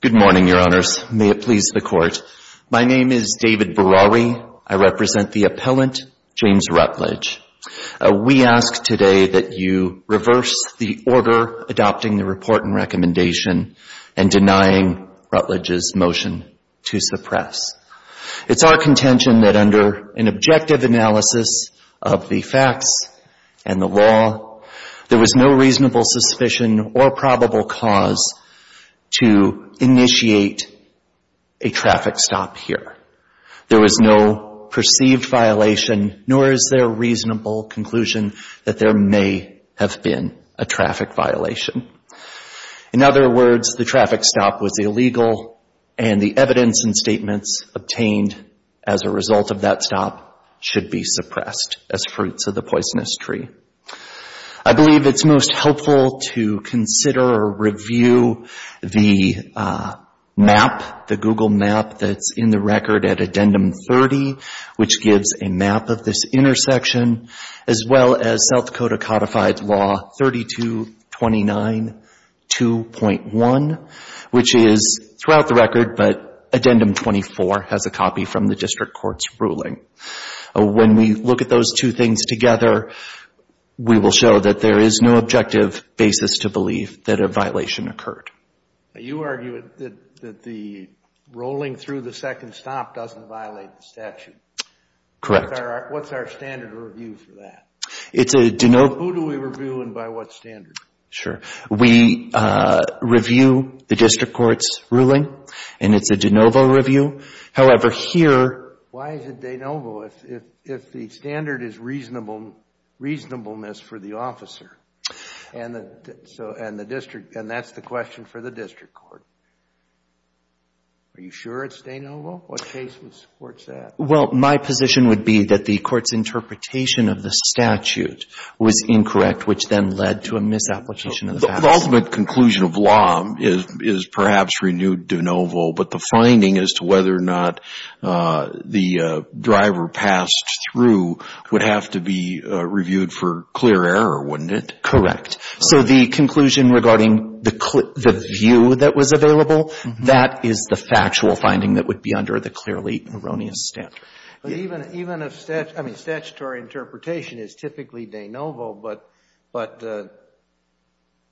Good morning, Your Honors. May it please the Court. My name is David Berawi. I represent the appellant, James Rutledge. We ask today that you reverse the order adopting the report and recommendation and denying Rutledge's motion to suppress. It's our contention that under an objective analysis of the facts and the law, there was no reasonable suspicion or probable cause to initiate a traffic stop here. There was no perceived violation, nor is there a reasonable conclusion that there may have been a traffic violation. In other words, the traffic stop was illegal and the evidence and statements obtained as a result of that stop should be suppressed as fruits of the poisonous tree. I believe it's most helpful to consider or review the map, the Google map that's in the as well as South Dakota codified law 3229-2.1, which is throughout the record, but addendum 24 has a copy from the district court's ruling. When we look at those two things together, we will show that there is no objective basis to believe that a violation occurred. Now, you argue that the rolling through the second stop doesn't violate the statute. Correct. What's our standard review for that? It's a de novo... Who do we review and by what standard? Sure. We review the district court's ruling and it's a de novo review. However, here... Why is it de novo if the standard is reasonableness for the officer and that's the question for the district court? Are you sure it's de novo? What case would support that? Well, my position would be that the court's interpretation of the statute was incorrect, which then led to a misapplication of the statute. The ultimate conclusion of law is perhaps renewed de novo, but the finding as to whether or not the driver passed through would have to be reviewed for clear error, wouldn't it? Correct. So, the conclusion regarding the view that was available, that is the factual finding that would be under the clearly erroneous standard. Even if... I mean, statutory interpretation is typically de novo, but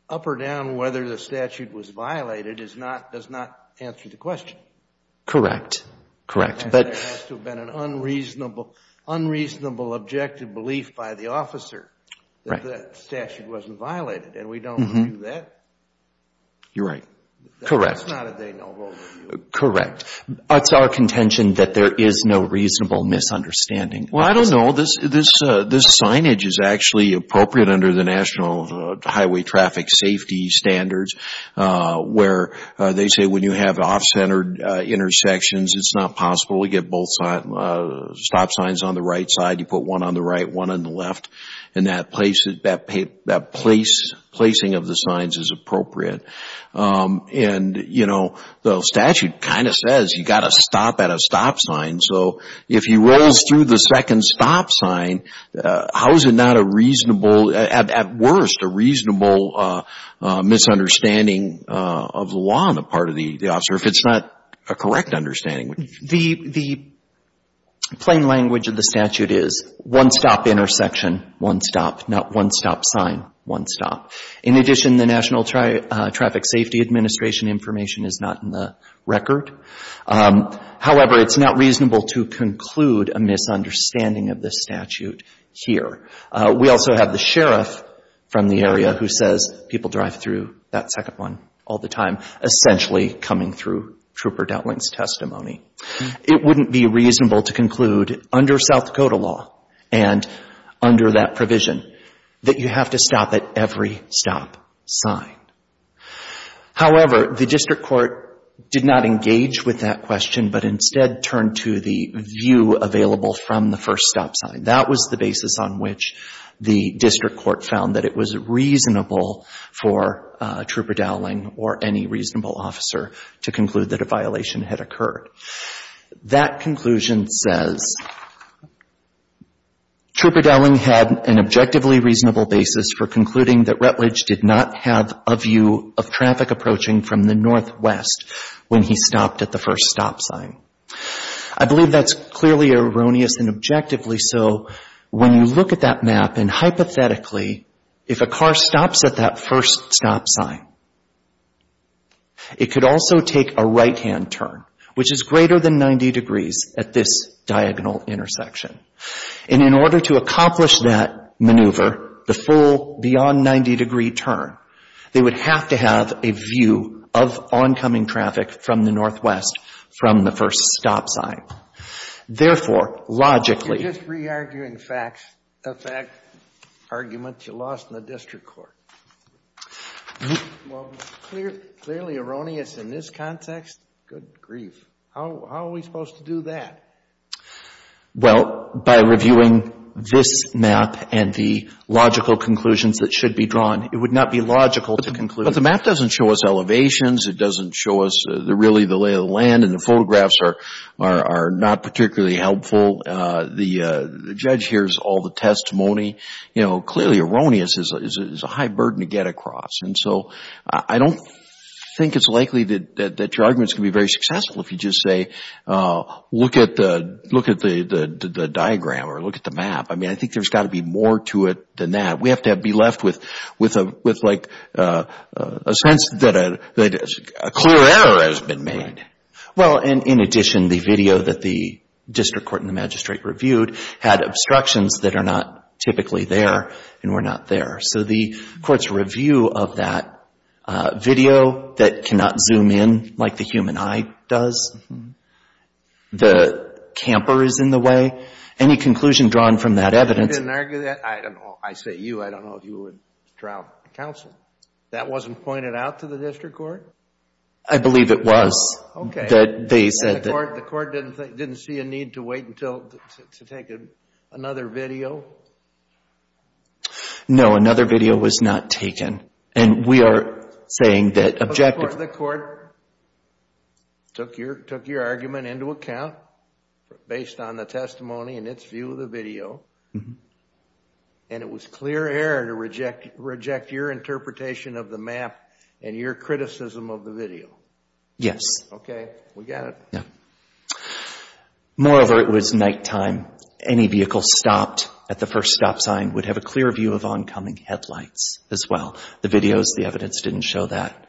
up or down whether the statute was violated does not answer the question. Correct. Correct. There has to have been an unreasonable objective belief by the officer that the statute wasn't violated and we don't review that. You're right. Correct. That's not a de novo review. Correct. It's our contention that there is no reasonable misunderstanding. Well, I don't know. This signage is actually appropriate under the National Highway Traffic Safety Standards, where they say when you have off-centered intersections, it's not possible to get both stop signs on the right side. You put one on the right, one on the left. The statute kind of says you've got to stop at a stop sign. So, if he rolls through the second stop sign, how is it not a reasonable, at worst, a reasonable misunderstanding of the law on the part of the officer, if it's not a correct understanding? The plain language of the statute is one stop intersection, one stop, not one stop sign, one stop. In addition, the National Traffic Safety Administration information is not in the record. However, it's not reasonable to conclude a misunderstanding of the statute here. We also have the sheriff from the area who says people drive through that second one all the time, essentially coming through Trooper Doutling's testimony. It wouldn't be reasonable to conclude under South Dakota law and under that provision that you have to stop at every stop sign. However, the district court did not engage with that question, but instead turned to the view available from the first stop sign. That was the basis on which the district court found that it was reasonable for Trooper Doutling or any reasonable officer to conclude that a violation had occurred. That conclusion says Trooper Doutling had an objectively reasonable basis for concluding that Rutledge did not have a view of traffic approaching from the northwest when he stopped at the first stop sign. I believe that's clearly erroneous and objectively so. When you look at that map and hypothetically, if a car stops at that first stop sign, it could also take a right-hand turn, which is greater than 90 degrees at this diagonal intersection. And in order to accomplish that maneuver, the full beyond 90 degree turn, they would have to have a view of oncoming traffic from the northwest from the first stop sign. Therefore, logically... You're just re-arguing facts. A fact argument you lost in the district court. Well, clearly erroneous in this context. Good grief. How are we supposed to do that? Well, by reviewing this map and the logical conclusions that should be drawn. It would not be logical to conclude... But the map doesn't show us elevations. It doesn't show us really the lay of the land. And the photographs are not particularly helpful. The judge hears all the testimony. Clearly erroneous is a high burden to get across. I don't think it's likely that your arguments can be very successful if you just say, look at the diagram or look at the map. I think there's got to be more to it than that. We have to be left with a sense that a clear error has been made. Well, in addition, the video that the district court and the magistrate reviewed had obstructions that are not typically there and were not there. So the court's review of that video that cannot zoom in like the human eye does. The camper is in the way. Any conclusion drawn from that evidence... I didn't argue that. I say you. I don't know if you would trial counsel. That wasn't pointed out to the district court? I believe it was. The court didn't see a need to wait to take another video? No, another video was not taken. The court took your argument into account based on the testimony and its view of the video. And it was clear error to reject your interpretation of the map and your criticism of the video. Yes. Okay, we get it. Moreover, it was nighttime. Any vehicle stopped at the first stop sign would have a clear view of oncoming headlights as well. The videos, the evidence didn't show that.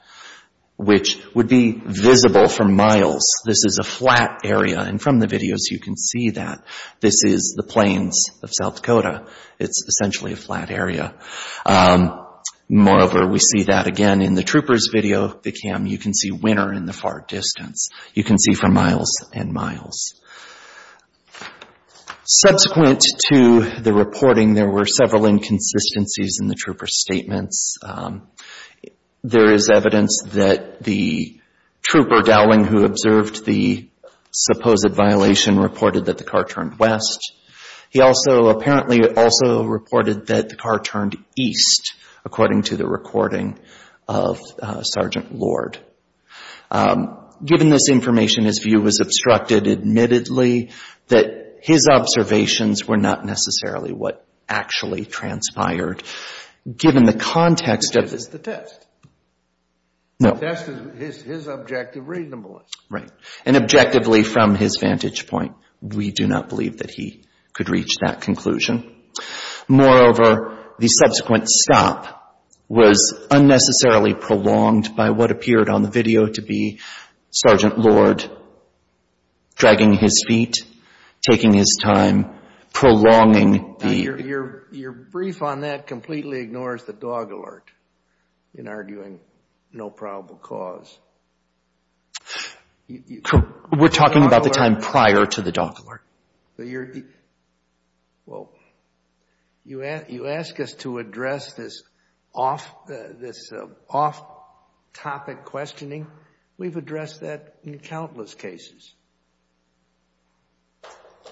Which would be visible for miles. This is a flat area. And from the videos, you can see that. This is the plains of South Dakota. It's essentially a flat area. Moreover, we see that again in the trooper's video. You can see winter in the far distance. You can see for miles and miles. Subsequent to the reporting, there were several inconsistencies in the trooper's statements. There is evidence that the trooper Dowling, who observed the supposed violation, reported that the car turned west. He also, apparently, also reported that the car turned east, according to the recording of Sergeant Lord. Given this information, his view was obstructed. Admittedly, his observations were not necessarily what actually transpired. Given the context of this... It's the test. No. The test is his objective reasonableness. Right. And objectively, from his vantage point, we do not believe that he could reach that conclusion. Moreover, the subsequent stop was unnecessarily prolonged by what appeared on the video to be Sergeant Lord dragging his feet, taking his time, prolonging the... Your brief on that completely ignores the dog alert in arguing no probable cause. We're talking about the time prior to the dog alert. Well, you ask us to address this off-topic questioning. We've addressed that in countless cases.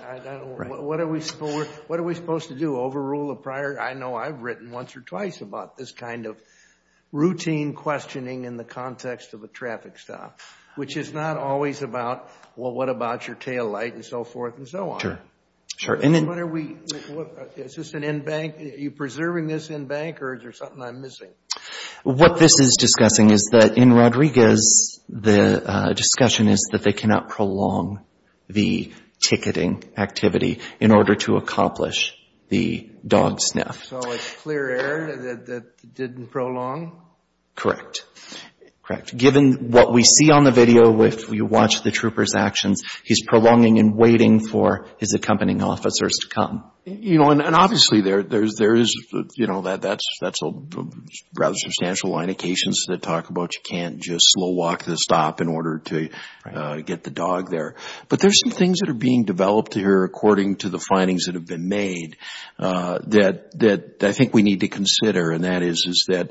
What are we supposed to do? Overrule a prior... I know I've written once or twice about this kind of routine questioning in the context of a traffic stop, which is not always about, well, what about your tail light and so forth and so on. Sure. What are we... Is this an in-bank... Are you preserving this in-bank or is there something I'm missing? What this is discussing is that in Rodriguez, the discussion is that they cannot prolong the ticketing activity in order to accomplish the dog sniff. So it's clear error that didn't prolong? Correct. Correct. Given what we see on the video, if you watch the trooper's actions, he's prolonging and waiting for his accompanying officers to come. And obviously there is... That's a rather substantial line of cases that talk about you can't just slow walk the stop in order to get the dog there. But there's some things that are being developed here according to the findings that have been made that I think we need to consider. And that is that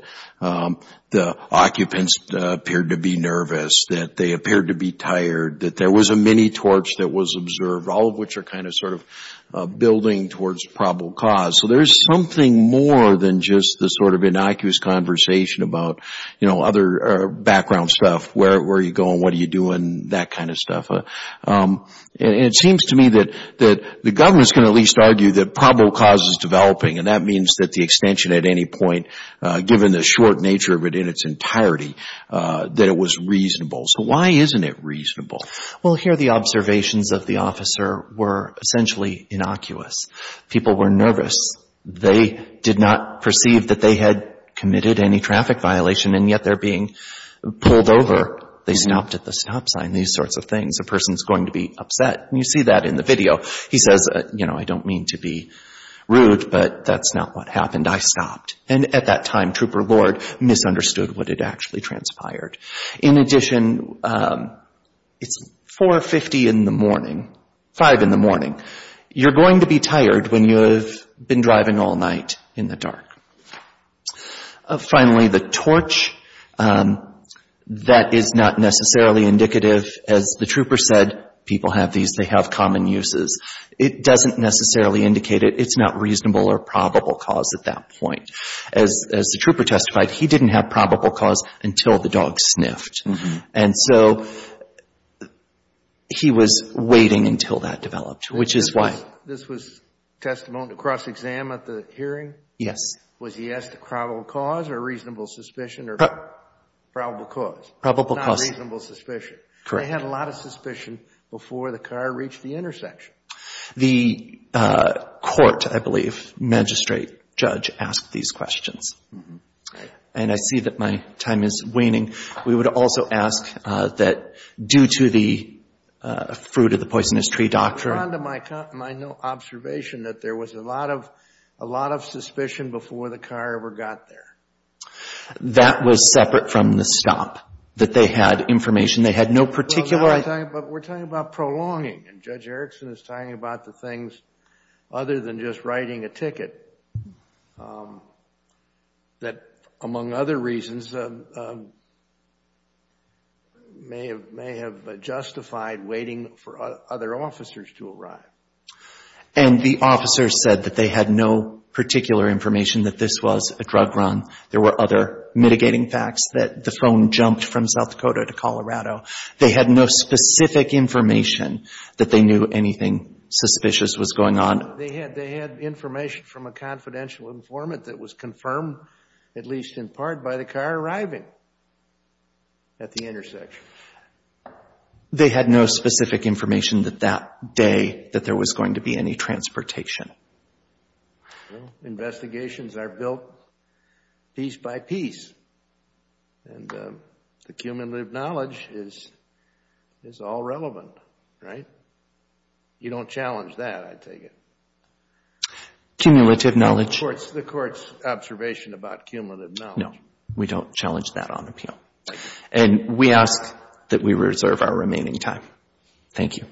the occupants appeared to be nervous, that they appeared to be tired, that there was a mini-torch that was observed, all of which are kind of sort of building towards probable cause. So there's something more than just the sort of innocuous conversation about, you know, other background stuff. Where are you going? What are you doing? That kind of stuff. And it seems to me that the government's going to at least argue that probable cause is developing. And that means that the extension at any point, given the short nature of it in its entirety, that it was reasonable. So why isn't it reasonable? Well, here the observations of the officer were essentially innocuous. People were nervous. They did not perceive that they had committed any traffic violation and yet they're being pulled over. They stopped at the stop sign. These sorts of things. A person's going to be upset. And you see that in the video. He says, you know, I don't mean to be rude, but that's not what happened. I stopped. And at that time Trooper Lord misunderstood what had actually transpired. In addition, it's 4.50 in the morning, 5 in the morning. You're going to be tired when you have been driving all night in the dark. Finally, the torch. That is not necessarily indicative. As the trooper said, people have these. They have common uses. It doesn't necessarily indicate it. It's not reasonable or probable cause at that point. As the trooper testified, he didn't have probable cause until the dog sniffed. And so he was waiting until that developed, which is why. This was testimony to cross-exam at the hearing? Yes. Was he asked for probable cause or reasonable suspicion? Probable cause. Probable cause. Not reasonable suspicion. Correct. They had a lot of suspicion before the car reached the intersection. The court, I believe, magistrate, judge, asked these questions. And I see that my time is waning. We would also ask that due to the fruit-of-the-poisonous-tree doctrine... I'm fond of my observation that there was a lot of suspicion before the car ever got there. That was separate from the stop. That they had information. They had no particular... We're talking about prolonging. And Judge Erickson is talking about the things other than just writing a ticket that, among other reasons, may have justified waiting for other officers to arrive. And the officers said that they had no particular information that this was a drug run. There were other mitigating facts that the phone jumped from South Dakota to Colorado. They had no specific information that they knew anything suspicious was going on. They had information from a confidential informant that was confirmed, at least in part, by the car arriving at the intersection. They had no specific information that that day that there was going to be any transportation. Investigations are built piece by piece. And the cumulative knowledge is all relevant, right? You don't challenge that, I take it? Cumulative knowledge. The Court's observation about cumulative knowledge. No, we don't challenge that on appeal. And we ask that we reserve our remaining time. Thank you.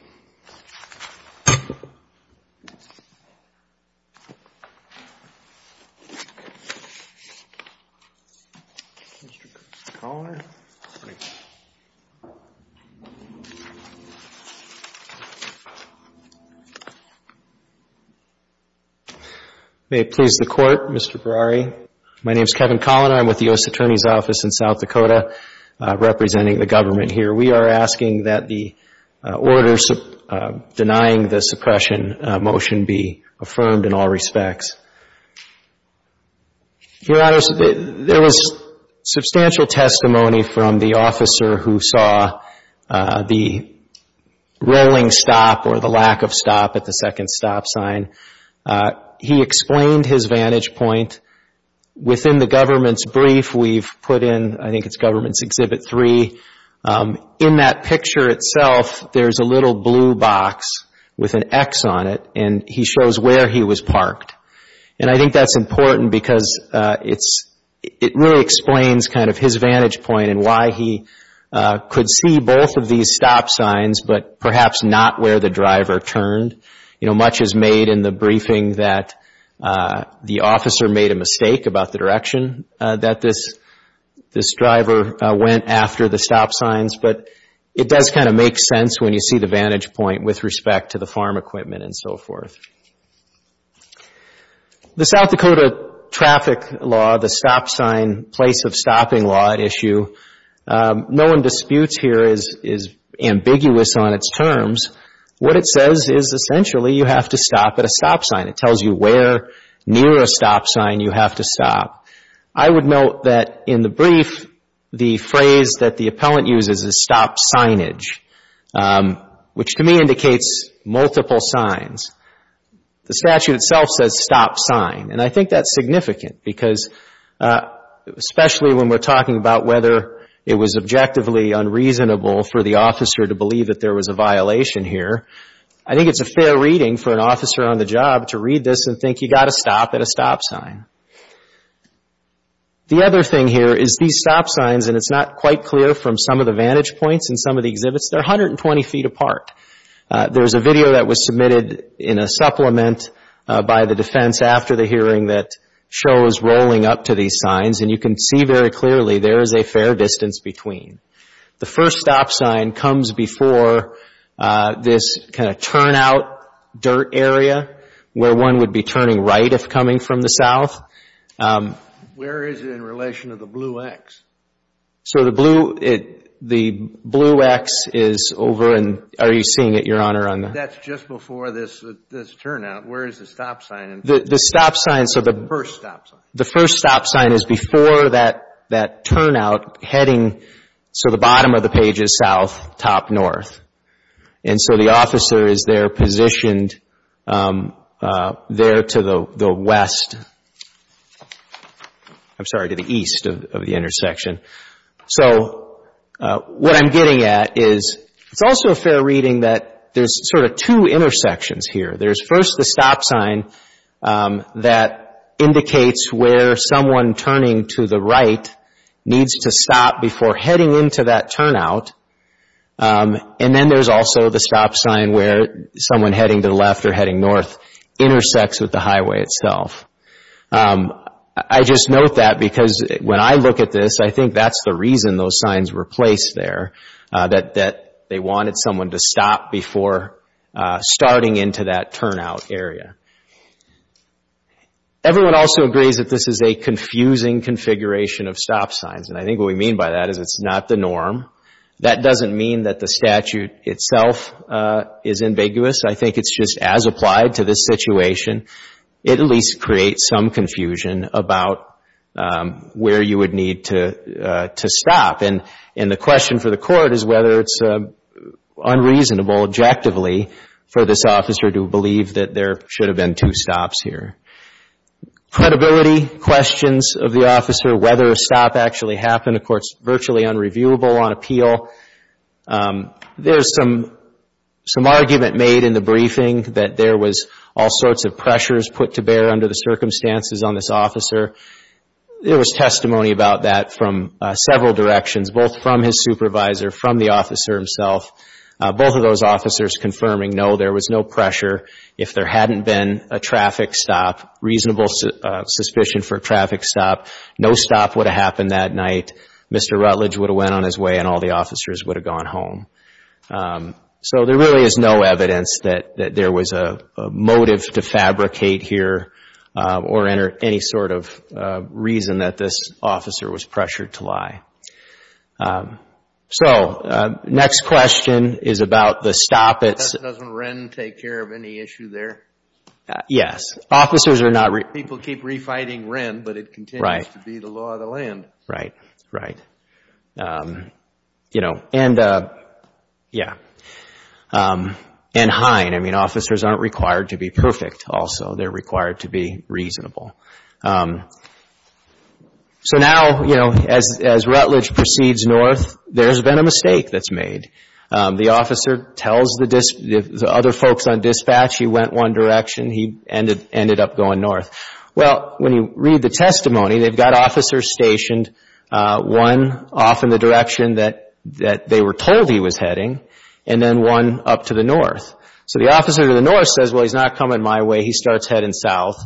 Mr. Colaner. May it please the Court, Mr. Brary. My name is Kevin Colaner. I'm with the U.S. Attorney's Office in South Dakota, representing the government here. We are asking that the order denying the suppression motion be affirmed in all respects. Your Honor, there was substantial testimony from the officer who saw the rolling stop or the lack of stop at the second stop sign. He explained his vantage point. Within the government's brief we've put in, I think it's government's Exhibit 3, in that picture itself there's a little blue box with an X on it and he shows where he was parked. And I think that's important because it really explains kind of his vantage point and why he could see both of these stop signs but perhaps not where the driver turned. You know, much is made in the briefing that the officer made a mistake about the direction that this driver went after the stop signs, but it does kind of make sense when you see the vantage point with respect to the farm equipment and so forth. The South Dakota traffic law, the stop sign place of stopping law issue, no one disputes here is ambiguous on its terms. What it says is essentially you have to stop at a stop sign. It tells you where near a stop sign you have to stop. I would note that in the brief the phrase that the appellant uses is stop signage, which to me indicates multiple signs. The statute itself says stop sign and I think that's significant because especially when we're talking about whether it was objectively unreasonable for the officer to believe that there was a violation here, I think it's a fair reading for an officer on the job to read this and think you've got to stop at a stop sign. The other thing here is these stop signs, and it's not quite clear from some of the vantage points and some of the exhibits, they're 120 feet apart. There's a video that was submitted in a supplement by the defense after the hearing that shows rolling up to these signs and you can see very clearly there is a fair distance between. The first stop sign comes before this kind of turn out dirt area where one would be turning right if coming from the south. Where is it in relation to the blue X? So the blue X is over and are you seeing it, Your Honor? That's just before this turn out. Where is the stop sign? The first stop sign is before that turn out heading so the bottom of the page is south, top north. And so the officer is there positioned there to the west, I'm sorry, to the east of the intersection. So what I'm getting at is it's also a fair reading that there's sort of two intersections here. There's first the stop sign that indicates where someone turning to the right needs to stop before heading into that turn out. And then there's also the stop sign where someone heading to the left or heading north intersects with the highway itself. I just note that because when I look at this I think that's the reason those signs were placed there that they wanted someone to stop before starting into that turn out area. Everyone also agrees that this is a confusing configuration of stop signs and I think what we mean by that is it's not the norm. That doesn't mean that the statute itself is ambiguous. I think it's just as applied to this situation. It at least creates some confusion about where you would need to stop. And the question for the court is whether it's unreasonable, objectively, for this officer to believe that there should have been two stops here. Credibility questions of the officer, whether a stop actually happened, the court's virtually unreviewable on appeal. There's some argument made in the briefing that there was all sorts of pressures put to bear under the circumstances on this officer. There was testimony about that from several directions, both from his supervisor, from the officer himself. Both of those officers confirming no, there was no pressure. If there hadn't been a traffic stop, reasonable suspicion for a traffic stop, no stop would have happened that night. Mr. Rutledge would have went on his way and all the officers would have gone home. So there really is no evidence that there was a motive to fabricate here or any sort of reason that this officer was pressured to lie. So next question is about the stop. Doesn't Wren take care of any issue there? Yes. People keep refighting Wren, but it continues to be the law of the land. Right, right. You know, and yeah. And Hine, I mean, officers aren't required to be perfect also. They're required to be reasonable. So now, you know, as Rutledge proceeds north, there's been a mistake that's made. The officer tells the other folks on dispatch he went one direction, he ended up going north. Well, when you read the testimony, they've got officers stationed, one off in the direction that they were told he was heading, and then one up to the north. So the officer to the north says, well, he's not coming my way, he starts heading south.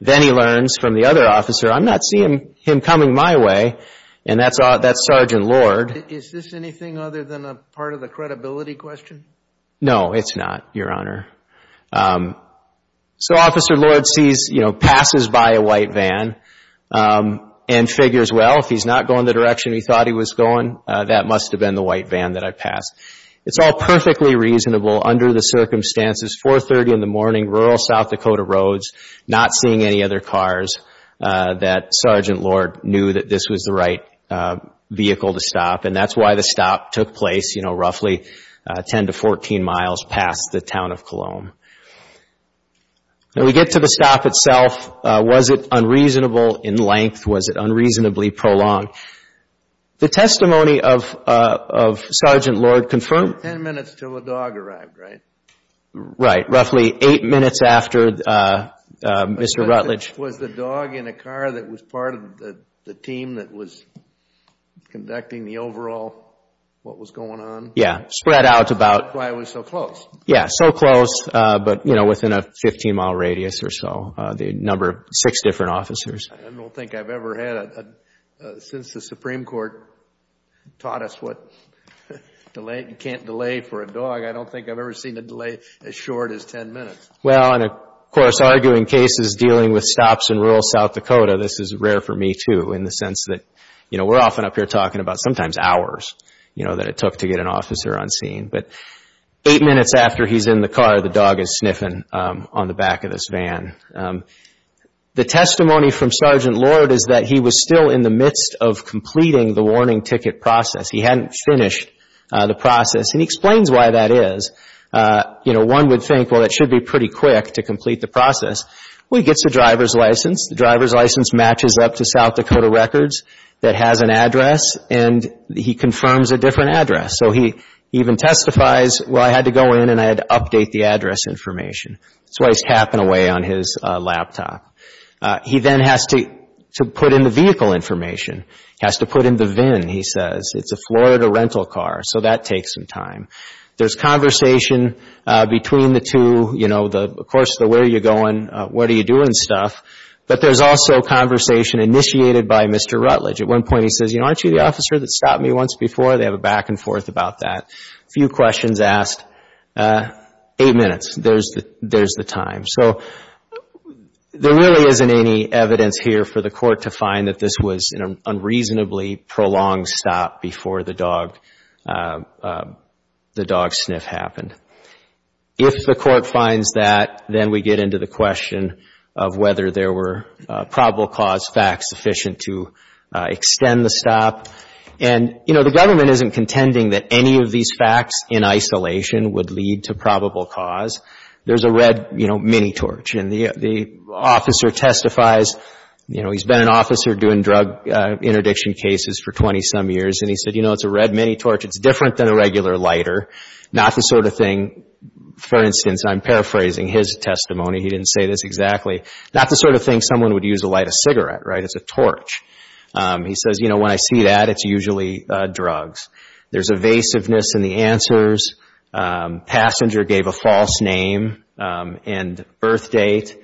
Then he learns from the other officer, I'm not seeing him coming my way, and that's Sergeant Lord. Is this anything other than a part of the credibility question? No, it's not, Your Honor. So Officer Lord sees, you know, passes by a white van and figures, well, if he's not going the direction he thought he was going, that must have been the white van that I passed. It's all perfectly reasonable under the circumstances, 4.30 in the morning, rural South Dakota roads, not seeing any other cars, that Sergeant Lord knew that this was the right vehicle to stop, and that's why the stop took place, you know, all alone. Now we get to the stop itself. Was it unreasonable in length? Was it unreasonably prolonged? The testimony of Sergeant Lord confirmed... Ten minutes till the dog arrived, right? Right, roughly eight minutes after Mr. Rutledge. Was the dog in a car that was part of the team that was conducting the overall, what was going on? Yeah, spread out about... But, you know, within a 15-mile radius or so, the number of six different officers. I don't think I've ever had a... Since the Supreme Court taught us what you can't delay for a dog, I don't think I've ever seen a delay as short as ten minutes. Well, and of course, arguing cases dealing with stops in rural South Dakota, this is rare for me too, in the sense that, you know, we're often up here talking about sometimes hours, you know, that it took to get an officer on scene. But eight minutes after he's in the car, the dog is sniffing on the back of this van. The testimony from Sergeant Lord is that he was still in the midst of completing the warning ticket process. He hadn't finished the process, and he explains why that is. You know, one would think, well, that should be pretty quick to complete the process. Well, he gets a driver's license. The driver's license matches up to South Dakota Records that has an address, and he confirms a different address. So he even testifies, well, I had to go in and I had to update the address information. That's why he's capping away on his laptop. He then has to put in the vehicle information. He has to put in the VIN, he says. It's a Florida rental car, so that takes some time. There's conversation between the two, you know, of course, where are you going, what are you doing stuff, but there's also conversation initiated by Mr. Rutledge. At one point, he says, you know, aren't you the officer that stopped me once before? They have a back and forth about that. A few questions asked, eight minutes, there's the time. So there really isn't any evidence here for the court to find that this was an unreasonably prolonged stop before the dog sniff happened. If the court finds that, then we get into the question of whether there were probable cause facts sufficient to extend the stop. The government isn't contending that any of these facts in isolation would lead to probable cause. There's a red, you know, mini-torch. The officer testifies, you know, he's been an officer doing drug interdiction cases for 20 some years, and he said, you know, it's a red mini-torch, it's different than a regular lighter, not the sort of thing, for instance, I'm paraphrasing his testimony, he didn't say this exactly, It's a torch. He says, you know, when I see that, it's usually drugs. There's evasiveness in the answers. Passenger gave a false name and birth date.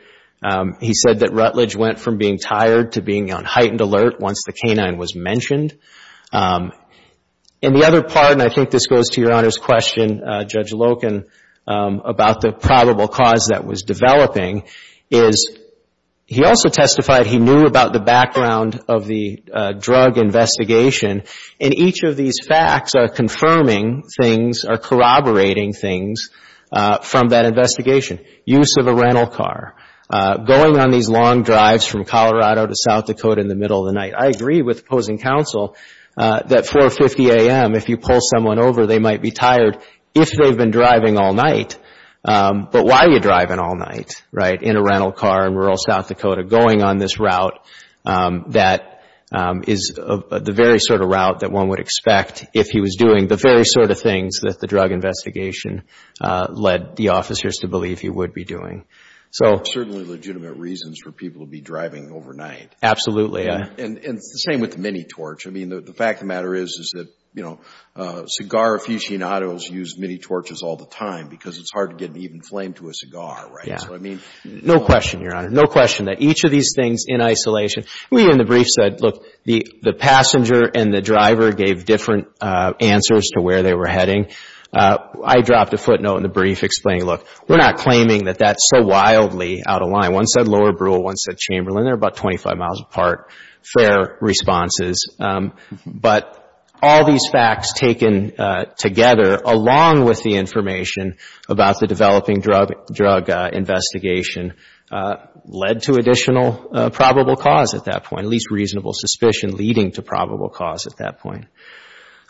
He said that Rutledge went from being tired to being on heightened alert once the canine was mentioned. And the other part, and I think this goes to Your Honor's question, Judge Loken, about the probable cause that was developing, is he also testified he knew about the background of the drug investigation? And each of these facts are confirming things, are corroborating things from that investigation. Use of a rental car, going on these long drives from Colorado to South Dakota in the middle of the night. I agree with opposing counsel that 4.50 a.m., if you pull someone over, they might be tired, if they've been driving all night. But why are you driving all night, right, in a rental car in rural South Dakota, going on this route that is the very sort of route that one would expect if he was doing the very sort of things that the drug investigation led the officers to believe he would be doing? There are certainly legitimate reasons for people to be driving overnight. Absolutely. And it's the same with the mini-torch. The fact of the matter is that cigar aficionados use mini-torches all the time because it's hard to get an even flame to a cigar, right? No question, Your Honor, no question that each of these things in isolation we in the brief said, look, the passenger and the driver gave different answers to where they were heading. I dropped a footnote in the brief explaining, look, we're not claiming that that's so wildly out of line. One said Lower Brule, one said Chamberlain, they're about 25 miles apart, fair responses. But all these facts taken together along with the information about the developing drug investigation led to additional probable cause at that point, at least reasonable suspicion leading to probable cause at that point.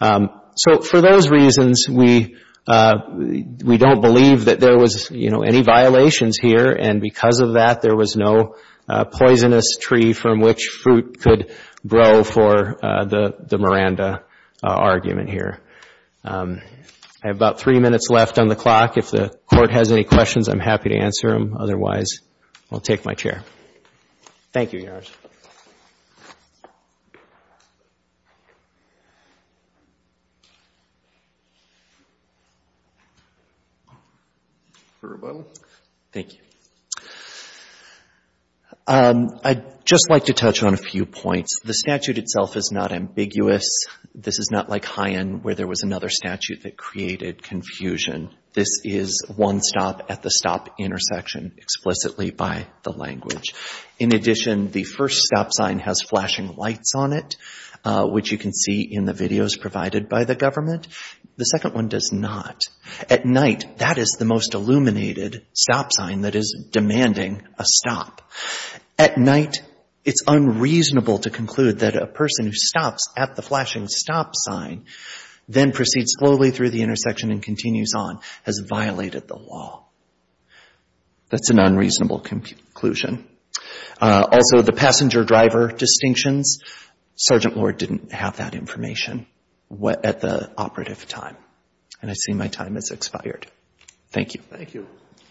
So for those reasons, we don't believe that there was any violations here, and because of that, there was no poisonous tree from which fruit could grow for the Miranda argument here. I have about three minutes left on the clock. If the court has any questions, I'm happy to answer them. Otherwise, I'll take my chair. Thank you, Your Honor. Thank you. I'd just like to touch on a few points. The statute itself is not ambiguous. This is not like Hyen where there was another statute that created confusion. This is one stop at the stop intersection explicitly by the language. In addition, the first stop sign has flashing lights on it, which you can see in the videos provided by the government. The second one does not. At night, that is the most illuminated stop sign that is demanding a stop. At night, it's unreasonable to conclude that a person who stops at the flashing stop sign then proceeds slowly through the intersection and so on has violated the law. That's an unreasonable conclusion. Also, the passenger driver distinctions, Sergeant Lord didn't have that information at the operative time. And I see my time has expired. Thank you. Thank you.